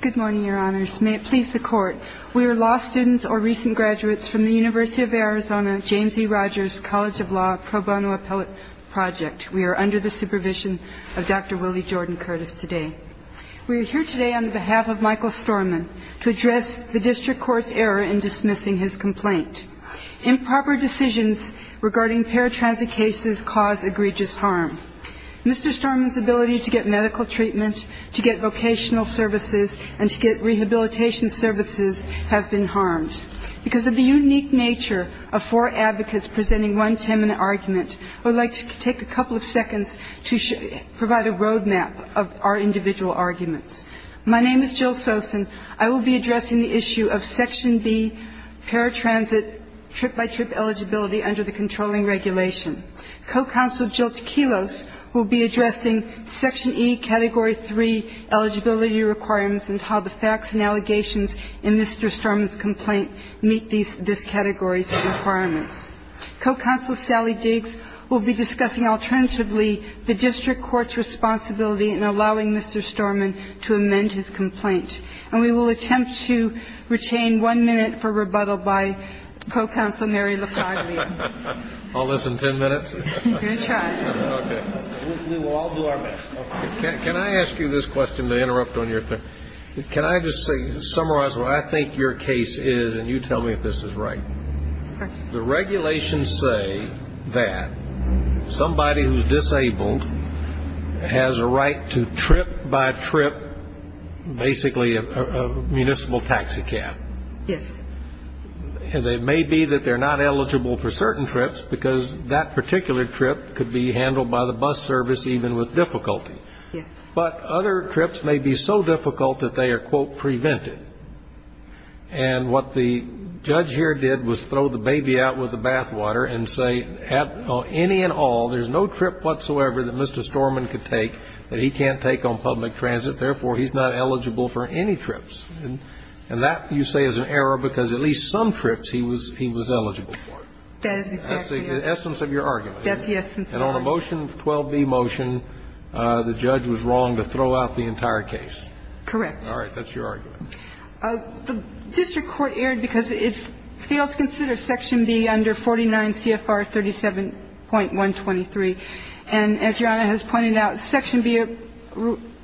Good morning, Your Honors. May it please the Court, we are law students or recent graduates from the University of Arizona James E. Rogers College of Law pro bono appellate project. We are under the supervision of Dr. Willie Jordan Curtis today. We are here today on the behalf of Michael Storman to address the district court's error in dismissing his complaint. Improper decisions regarding paratransit cases cause egregious harm. Mr. Storman's ability to get medical treatment, to get vocational services, and to get rehabilitation services have been harmed. Because of the unique nature of four advocates presenting one ten-minute argument, I would like to take a couple of seconds to provide a road map of our individual arguments. My name is Jill Sosin. I will be addressing the issue of Section B paratransit trip-by-trip eligibility under the controlling regulation. Co-counsel Jill Tequilos will be addressing Section E Category 3 eligibility requirements and how the facts and allegations in Mr. Storman's complaint meet these categories and requirements. Co-counsel Sally Diggs will be discussing alternatively the district court's responsibility in allowing Mr. Storman to amend his complaint. And we will attempt to retain one minute for rebuttal by Co-counsel Mary Lafaglia. Can I ask you this question to interrupt on your thing? Can I just summarize what I think your case is and you tell me if this is right. The regulations say that somebody who's disabled has a right to trip-by-trip basically a municipal taxicab. Yes. It may be that they're not eligible for certain trips because that particular trip could be handled by the bus service even with difficulty. Yes. But other trips may be so difficult that they are, quote, prevented. And what the judge here did was throw the baby out with the bathwater and say, any and all, there's no trip whatsoever that Mr. Storman could take that he can't take on public transit, therefore he's not eligible for any trips. And that, you say, is an error because at least some trips he was eligible for. That is exactly right. That's the essence of your argument. That's the essence of the argument. And on a Motion 12b motion, the judge was wrong to throw out the entire case. Correct. All right. That's your argument. The district court erred because it failed to consider Section B under 49 CFR 37.123. And as Your Honor has pointed out, Section B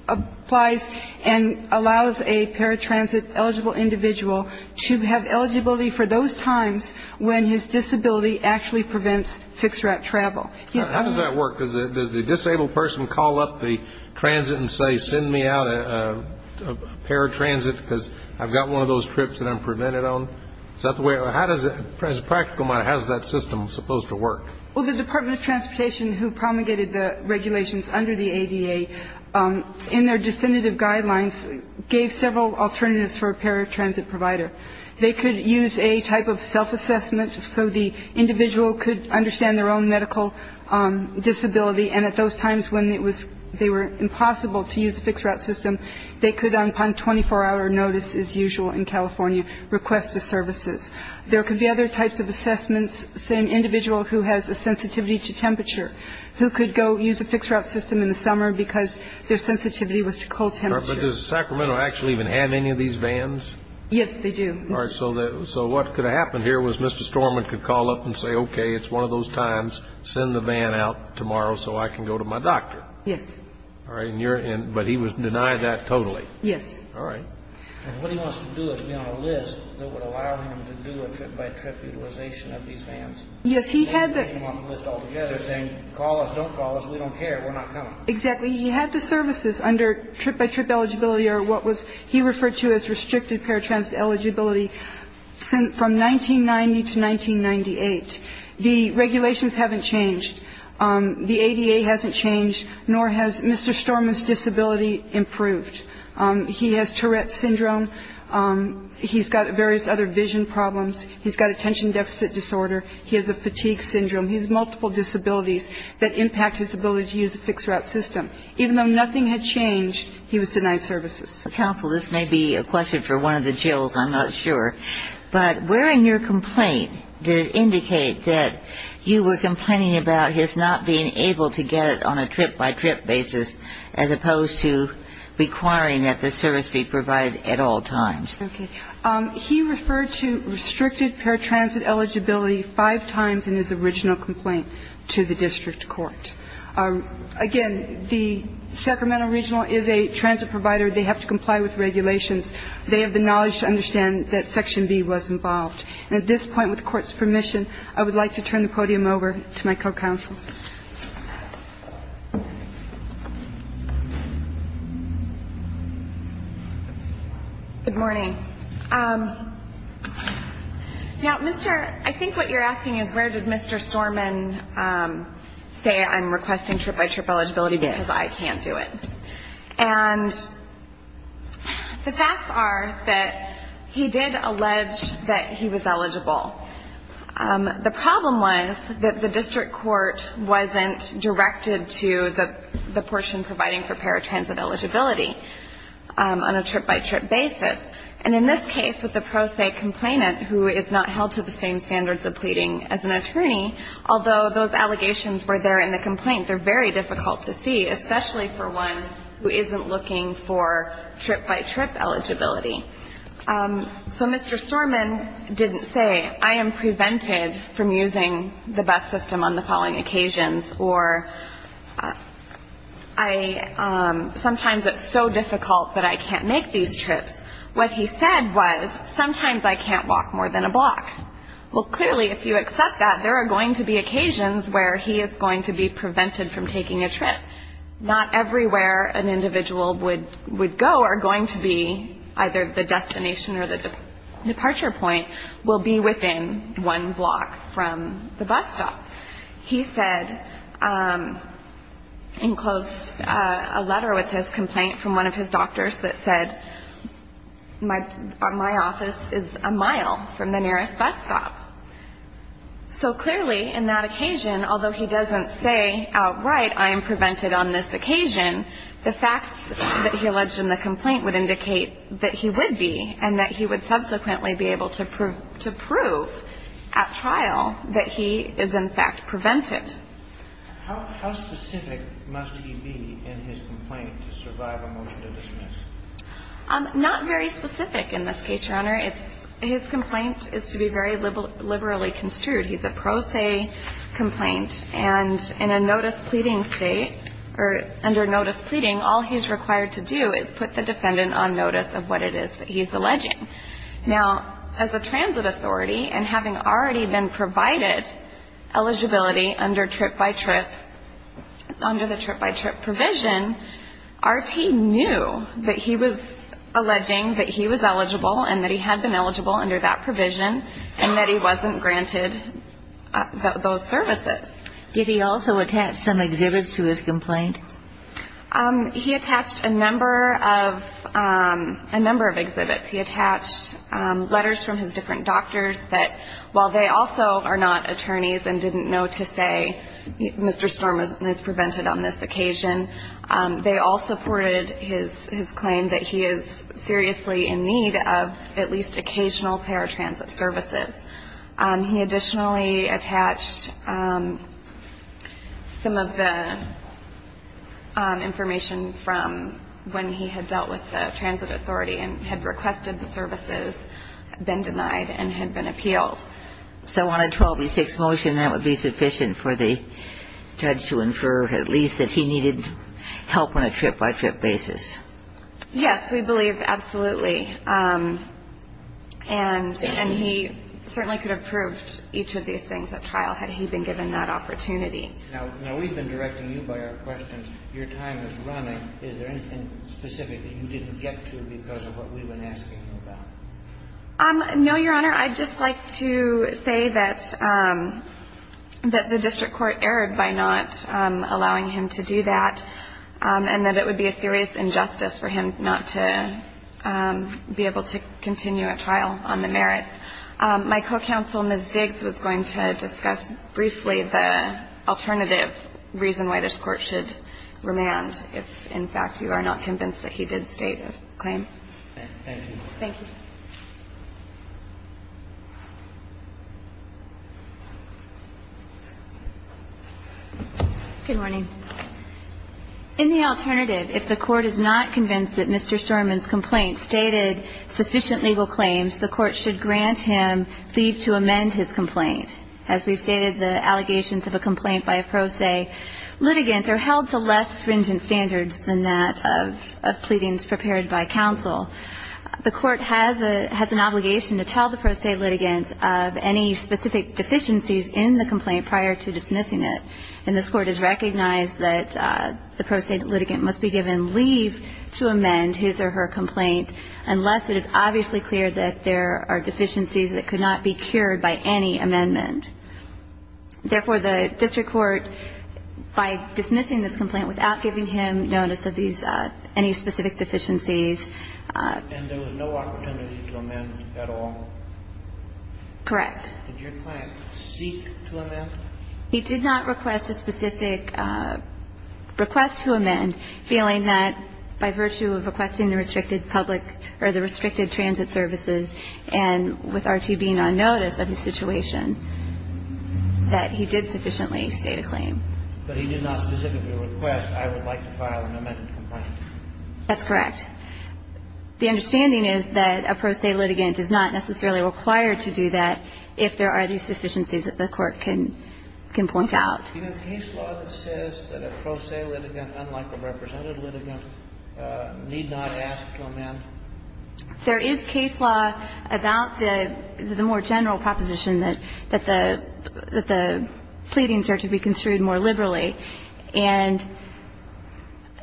applies and allows a paratransit eligible individual to have eligibility for those times when his disability actually prevents fixed route travel. How does that work? Does the disabled person call up the transit and say, send me out a paratransit because I've got one of those trips that I'm prevented on? Is that the way? How does it, as a practical matter, how is that system supposed to work? Well, the Department of Transportation, who promulgated the regulations under the ADA, in their definitive guidelines gave several alternatives for a paratransit provider. They could use a type of self-assessment so the individual could understand their own medical disability. And at those times when it was, they were impossible to use a fixed route system, they could, on 24-hour notice as usual in California, request the services. There could be other types of assessments, say an individual who has a sensitivity to temperature, who could go use a fixed route system in the summer because their sensitivity was to cold temperature. But does Sacramento actually even have any of these vans? Yes, they do. All right, so what could have happened here was Mr. Storman could call up and say, OK, it's one of those times. Send the van out tomorrow so I can go to my doctor. Yes. All right, and you're in, but he was denied that totally. Yes. All right. And what he wants to do is be on a list that would allow him to do a trip-by-trip utilization of these vans. Yes, he had the. Yeah, they're saying, call us, don't call us, we don't care, we're not coming. Exactly, he had the services under trip-by-trip eligibility or what was, he referred to as restricted paratransit eligibility from 1990 to 1998. The regulations haven't changed, the ADA hasn't changed, nor has Mr. Storman's disability improved. He has Tourette's syndrome, he's got various other vision problems, he's got attention deficit disorder, he has a fatigue syndrome, he has multiple disabilities that impact his ability to use a fixed route system. Even though nothing had changed, he was denied services. Counsel, this may be a question for one of the Jill's, I'm not sure, but where in your complaint did it indicate that you were complaining about his not being able to get it on a trip-by-trip basis, as opposed to requiring that the service be provided at all times? He referred to restricted paratransit eligibility five times in his original complaint to the district court. Again, the Sacramento Regional is a transit provider, they have to comply with regulations. They have the knowledge to understand that Section B was involved. And at this point, with the court's permission, I would like to turn the podium over to my co-counsel. Good morning. Now, Mr., I think what you're asking is where did Mr. Storman say, I'm requesting trip-by-trip eligibility because I can't do it. And the facts are that he did allege that he was eligible. The problem was that the district court wasn't directed to the portion providing for paratransit eligibility on a trip-by-trip basis. And in this case, with the pro se complainant who is not held to the same standards of pleading as an attorney, although those allegations were there in the complaint, they're very difficult to see, especially for one who isn't looking for trip-by-trip eligibility. So Mr. Storman didn't say, I am prevented from using the bus system on the following occasions, or sometimes it's so difficult that I can't make these trips. What he said was, sometimes I can't walk more than a block. Well, clearly, if you accept that, there are going to be occasions where he is going to be prevented from taking a trip. Not everywhere an individual would go are going to be, either the destination or the departure point, will be within one block from the bus stop. He said, and closed a letter with his complaint from one of his doctors that said, my office is a mile from the nearest bus stop. So clearly, in that occasion, although he doesn't say outright, I am prevented on this occasion, the facts that he alleged in the complaint would indicate that he would be, and that he would subsequently be able to prove at trial that he is, in fact, prevented. How specific must he be in his complaint to survive a motion to dismiss? Not very specific in this case, Your Honor. His complaint is to be very liberally construed. He's a pro se complaint. And in a notice pleading state, or under notice pleading, all he's required to do is put the defendant on notice of what it is that he's alleging. Now, as a transit authority, and having already been provided eligibility under trip by trip, under the trip by trip provision, RT knew that he was alleging that he was eligible, and that he had been eligible under that those services. Did he also attach some exhibits to his complaint? He attached a number of exhibits. He attached letters from his different doctors that, while they also are not attorneys and didn't know to say, Mr. Storm is prevented on this occasion, they all supported his claim that he is seriously in need of at least occasional paratransit services. He additionally attached some of the information from when he had dealt with the transit authority, and had requested the services, been denied, and had been appealed. So on a 12 v 6 motion, that would be sufficient for the judge to infer, at least, that he needed help on a trip by trip basis? Yes, we believe absolutely. And he certainly could have proved each of these things at trial, had he been given that opportunity. Now, we've been directing you by our questions. Your time is running. Is there anything specific that you didn't get to because of what we've been asking you about? No, Your Honor. I'd just like to say that the district court erred by not allowing him to do that, and that it would be a serious injustice for him not to be able to continue a trial on the merits. My co-counsel, Ms. Diggs, was going to discuss briefly the alternative reason why this court should remand, if, in fact, you are not convinced that he did state a claim. Thank you. Thank you. Good morning. In the alternative, if the court is not convinced that Mr. Storman's complaint stated sufficient legal claims, the court should grant him leave to amend his complaint. As we stated, the allegations of a complaint by a pro se litigant are held to less stringent standards than that of pleadings prepared by counsel. The court has an obligation to tell the pro se litigant of any specific deficiencies in the complaint prior to dismissing it. And this court has recognized that the pro se litigant must be given leave to amend his or her complaint unless it is obviously clear that there are deficiencies that could not be cured by any amendment. Therefore, the district court, by dismissing this complaint without giving him notice of any specific deficiencies... And there was no opportunity to amend at all? Correct. Did your client seek to amend? He did not request a specific request to amend, feeling that by virtue of requesting the restricted public or the restricted transit services and with R.T. being on notice of his situation, that he did sufficiently state a claim. But he did not specifically request, I would like to file an amended complaint. That's correct. The understanding is that a pro se litigant is not necessarily required to do that if there are these deficiencies that the court can point out. Do you have case law that says that a pro se litigant, unlike a represented litigant, need not ask to amend? There is case law about the more general proposition that the pleadings are to be construed more liberally. And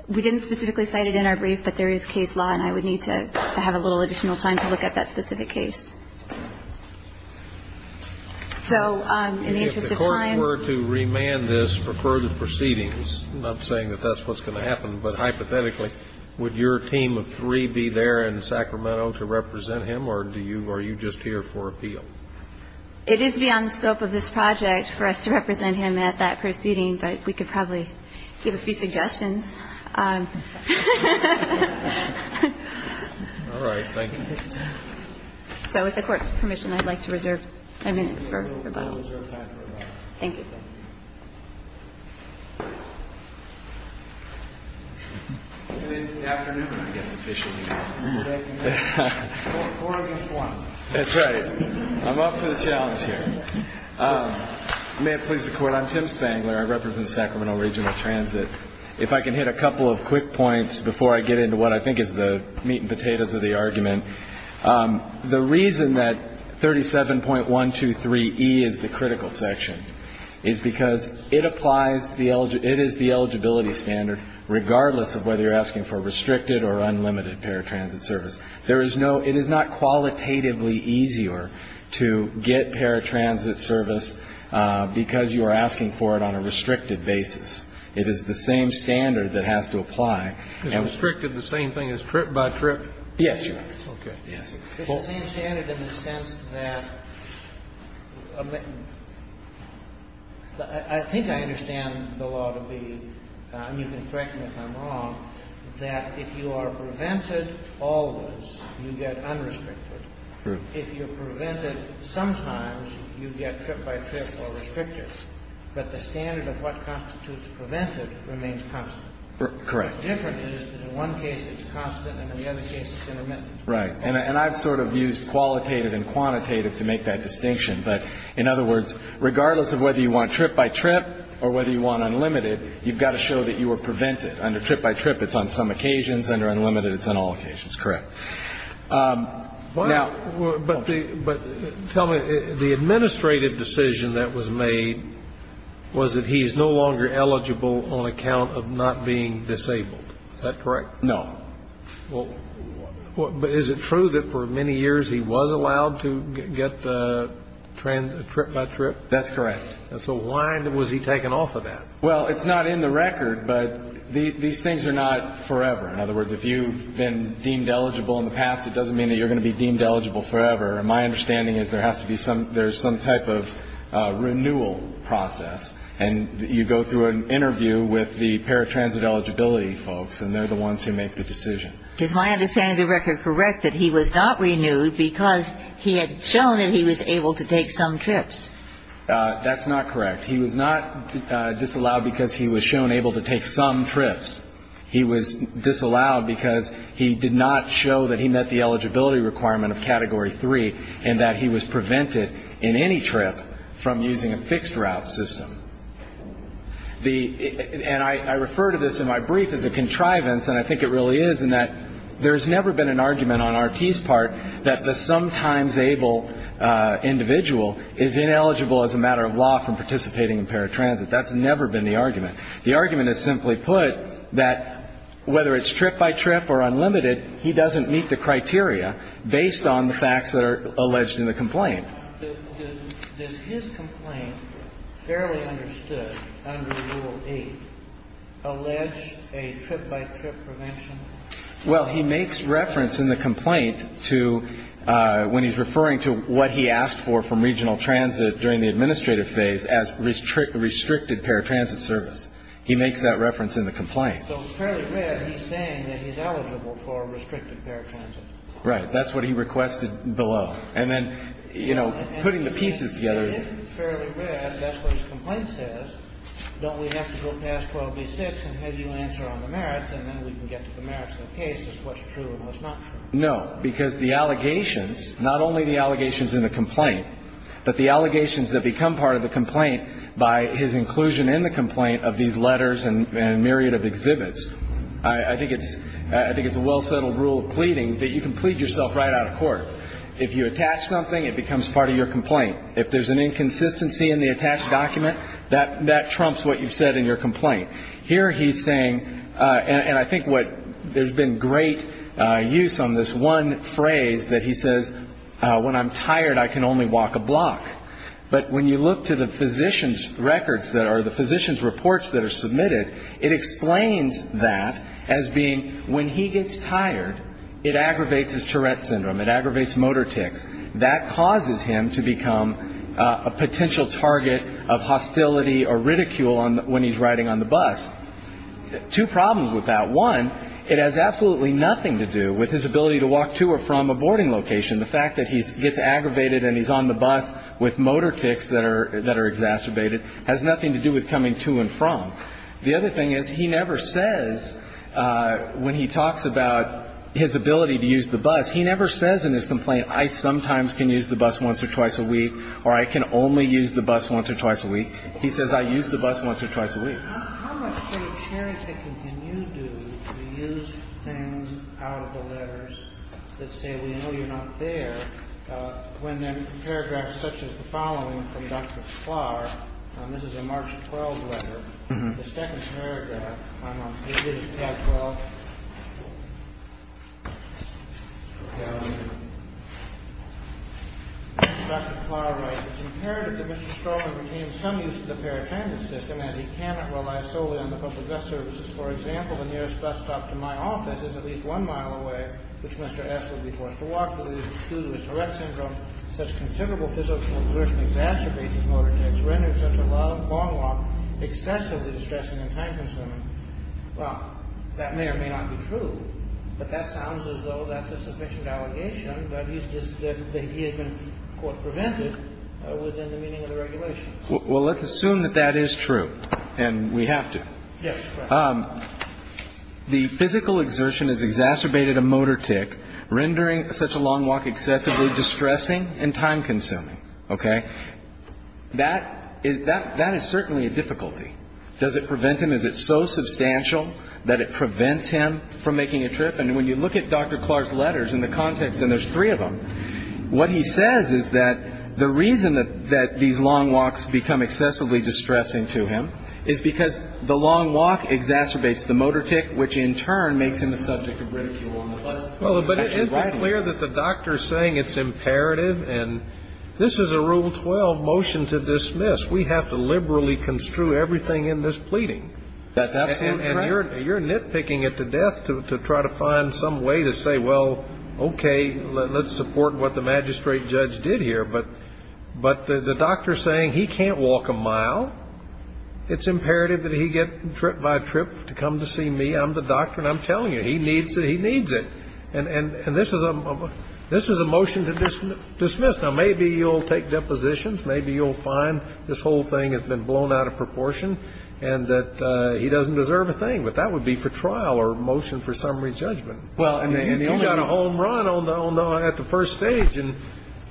we didn't specifically cite it in our brief, but there is case law, and I would need to have a little additional time to look at that specific case. So in the interest of time. If the court were to remand this for further proceedings, I'm not saying that that's what's going to happen, but hypothetically, would your team of three be there in Sacramento to represent him, or are you just here for appeal? It is beyond the scope of this project for us to represent him at that proceeding, but we could probably give a few suggestions. All right. Thank you. So with the court's permission, I'd like to reserve a minute for rebuttals. Thank you. That's right. I'm up for the challenge here. May it please the court. I'm Tim Spangler. I represent Sacramento Regional Transit. If I can hit a couple of quick points before I get into what I think is the meat and The reason that 37.123E is the critical section is because it applies the It is the eligibility standard, regardless of whether you're asking for restricted or unlimited paratransit service. There is no It is not qualitatively easier to get paratransit service because you are asking for it on a restricted basis. It is the same standard that has to apply. Is restricted the same thing as trip by trip? Yes, Your Honor. Okay. It's the same standard in the sense that I think I understand the law to be, and you can correct me if I'm wrong, that if you are prevented always, you get unrestricted. True. If you're prevented sometimes, you get trip by trip or restricted. But the standard of what constitutes prevented remains constant. Correct. What's different is that in one case it's constant and in the other case it's intermittent. Right. And I've sort of used qualitative and quantitative to make that distinction. But in other words, regardless of whether you want trip by trip or whether you want unlimited, you've got to show that you were prevented. Under trip by trip, it's on some occasions. Under unlimited, it's on all occasions. Correct. But tell me, the administrative decision that was made was that he's no longer eligible on account of not being disabled. Is that correct? No. Well, but is it true that for many years he was allowed to get trip by trip? That's correct. And so why was he taken off of that? Well, it's not in the record, but these things are not forever. In other words, if you've been deemed eligible in the past, it doesn't mean that you're going to be deemed eligible forever. My understanding is there has to be some – there's some type of renewal process. And you go through an interview with the paratransit eligibility folks, and they're the ones who make the decision. Is my understanding of the record correct that he was not renewed because he had shown that he was able to take some trips? That's not correct. He was not disallowed because he was shown able to take some trips. He was disallowed because he did not show that he met the eligibility requirement of Category 3 and that he was prevented in any trip from using a fixed route system. And I refer to this in my brief as a contrivance, and I think it really is, in that there's never been an argument on R.T.'s part that the sometimes able individual is ineligible as a matter of law from participating in paratransit. That's never been the argument. The argument is simply put that whether it's trip by trip or unlimited, he doesn't meet the criteria based on the facts that are alleged in the complaint. Does his complaint, fairly understood under Rule 8, allege a trip by trip prevention? Well, he makes reference in the complaint to – when he's referring to what he asked for from regional transit during the administrative phase as restricted paratransit service. He makes that reference in the complaint. So fairly read, he's saying that he's eligible for restricted paratransit. Right. That's what he requested below. And then, you know, putting the pieces together is – It is fairly read. That's what his complaint says. Don't we have to go past 12B6 and have you answer on the merits, and then we can get to the merits of the case as to what's true and what's not true. No, because the allegations, not only the allegations in the complaint, but the allegations that become part of the complaint by his inclusion in the complaint of these letters and myriad of exhibits, I think it's a well-settled rule of pleading that you can plead yourself right out of court. If you attach something, it becomes part of your complaint. If there's an inconsistency in the attached document, that trumps what you've said in your complaint. Here he's saying – and I think what – there's been great use on this one phrase that he says, But when you look to the physician's records that are – the physician's reports that are submitted, it explains that as being when he gets tired, it aggravates his Tourette syndrome. It aggravates motor tics. That causes him to become a potential target of hostility or ridicule when he's riding on the bus. Two problems with that. One, it has absolutely nothing to do with his ability to walk to or from a boarding location. The fact that he gets aggravated and he's on the bus with motor tics that are exacerbated has nothing to do with coming to and from. The other thing is he never says when he talks about his ability to use the bus, he never says in his complaint, I sometimes can use the bus once or twice a week or I can only use the bus once or twice a week. He says, I use the bus once or twice a week. How much sort of cherry-picking can you do to use things out of the letters that say, we know you're not there, when there are paragraphs such as the following from Dr. Flaher, this is a March 12 letter, the second paragraph on page 12. Dr. Flaher writes, it's imperative that Mr. Stroman retain some use of the paratransit system as he cannot rely solely on the public bus services. For example, the nearest bus stop to my office is at least one mile away, which Mr. S would be forced to walk to, due to his Tourette syndrome. Such considerable physical exertion exacerbates his motor tics, renders such a long walk excessively distressing and time-consuming. Well, that may or may not be true, but that sounds as though that's a sufficient allegation that he has been prevented within the meaning of the regulations. Well, let's assume that that is true, and we have to. Yes. The physical exertion has exacerbated a motor tic, rendering such a long walk excessively distressing and time-consuming. Okay? That is certainly a difficulty. Does it prevent him? Is it so substantial that it prevents him from making a trip? And when you look at Dr. Clark's letters and the context, and there's three of them, what he says is that the reason that these long walks become excessively distressing to him is because the long walk exacerbates the motor tic, which in turn makes him a subject of ridicule. But isn't it clear that the doctor is saying it's imperative, and this is a Rule 12 motion to dismiss. We have to liberally construe everything in this pleading. That's absolutely correct. You're nitpicking it to death to try to find some way to say, well, okay, let's support what the magistrate judge did here. But the doctor is saying he can't walk a mile. It's imperative that he get trip by trip to come to see me. I'm the doctor, and I'm telling you, he needs it. And this is a motion to dismiss. Now, maybe you'll take depositions. Maybe you'll find this whole thing has been blown out of proportion and that he doesn't deserve a thing. But that would be for trial or motion for summary judgment. You got a home run at the first stage, and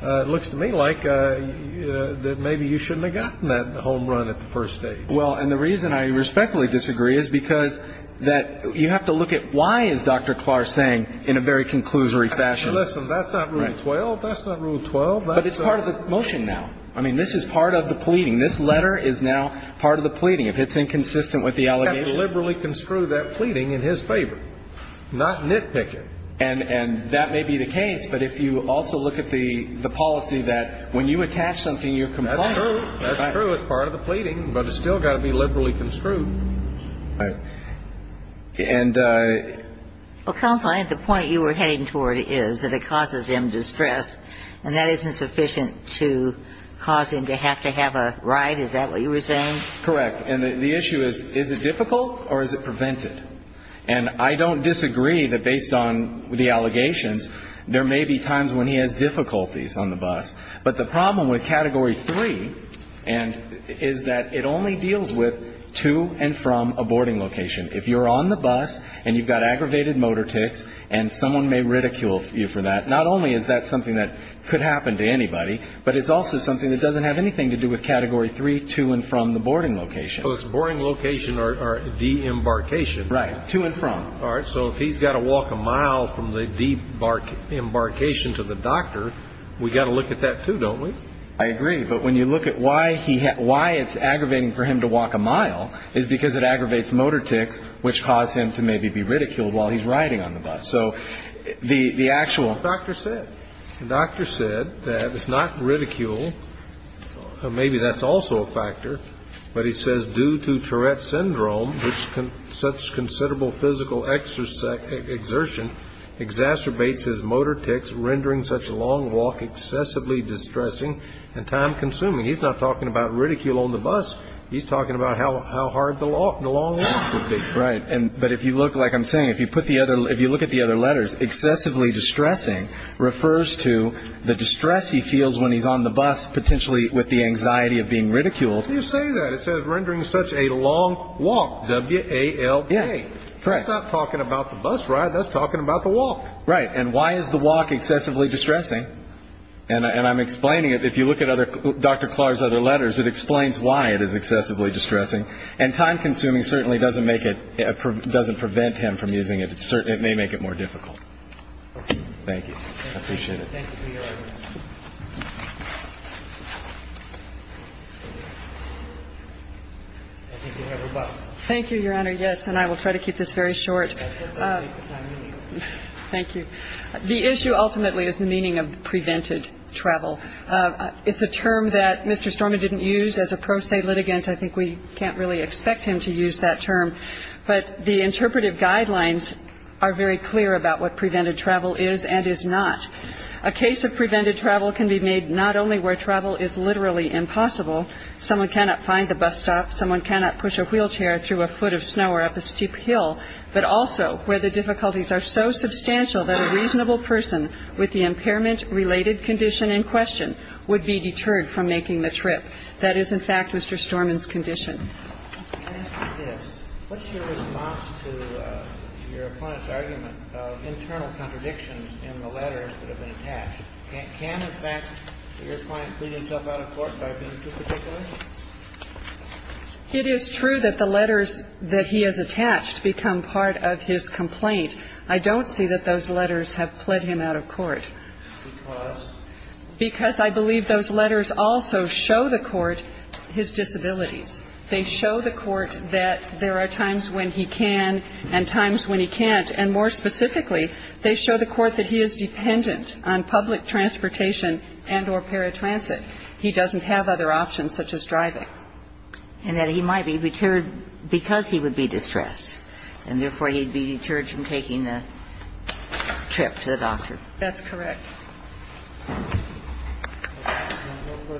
it looks to me like that maybe you shouldn't have gotten that home run at the first stage. Well, and the reason I respectfully disagree is because that you have to look at why, as Dr. Clark is saying, in a very conclusory fashion. Listen, that's not Rule 12. That's not Rule 12. But it's part of the motion now. I mean, this is part of the pleading. This letter is now part of the pleading. If it's inconsistent with the allegations. You have to liberally construe that pleading in his favor, not nitpick it. And that may be the case. But if you also look at the policy that when you attach something, you comply. That's true. That's true. It's part of the pleading, but it's still got to be liberally construed. Right. And the point you were heading toward is that it causes him distress, and that isn't sufficient to cause him to have to have a ride. Is that what you were saying? Correct. And the issue is, is it difficult or is it prevented? And I don't disagree that based on the allegations, there may be times when he has difficulties on the bus. But the problem with Category 3 is that it only deals with to and from a boarding location. If you're on the bus and you've got aggravated motor tics and someone may ridicule you for that, not only is that something that could happen to anybody, but it's also something that doesn't have anything to do with Category 3, to and from the boarding location. So it's boarding location or de-embarkation. Right. To and from. All right. So if he's got to walk a mile from the de-embarkation to the doctor, we've got to look at that too, don't we? I agree. But when you look at why it's aggravating for him to walk a mile, it's because it aggravates motor tics, which cause him to maybe be ridiculed while he's riding on the bus. So the actual doctor said that it's not ridicule. Maybe that's also a factor. But he says due to Tourette's Syndrome, which such considerable physical exertion exacerbates his motor tics, rendering such a long walk excessively distressing and time-consuming. He's not talking about ridicule on the bus. He's talking about how hard the long walk would be. Right. But if you look, like I'm saying, if you look at the other letters, excessively distressing refers to the distress he feels when he's on the bus, potentially with the anxiety of being ridiculed. You say that. It says rendering such a long walk, W-A-L-K. Correct. That's not talking about the bus ride. That's talking about the walk. Right. And why is the walk excessively distressing? And I'm explaining it. If you look at Dr. Clark's other letters, it explains why it is excessively distressing. And time-consuming certainly doesn't make it, doesn't prevent him from using it. It may make it more difficult. Thank you. I appreciate it. Thank you, Your Honor. Thank you, Your Honor. Yes, and I will try to keep this very short. Thank you. The issue ultimately is the meaning of prevented travel. It's a term that Mr. Storman didn't use as a pro se litigant. I think we can't really expect him to use that term. But the interpretive guidelines are very clear about what prevented travel is and is not. A case of prevented travel can be made not only where travel is literally impossible, someone cannot find the bus stop, someone cannot push a wheelchair through a foot of snow or up a steep hill, but also where the difficulties are so substantial that a reasonable person with the impairment-related condition in question would be deterred from making the trip. That is, in fact, Mr. Storman's condition. Yes. What's your response to your opponent's argument of internal contradictions in the letters that have been attached? Can, in fact, your client plead himself out of court by being too particular? It is true that the letters that he has attached become part of his complaint. I don't see that those letters have pled him out of court. Because? Because I believe those letters also show the court his disabilities. They show the court that there are times when he can and times when he can't. And more specifically, they show the court that he is dependent on public transportation and or paratransit. He doesn't have other options such as driving. And that he might be deterred because he would be distressed, and therefore he would be deterred from taking the trip to the doctor. That's correct. Thank you.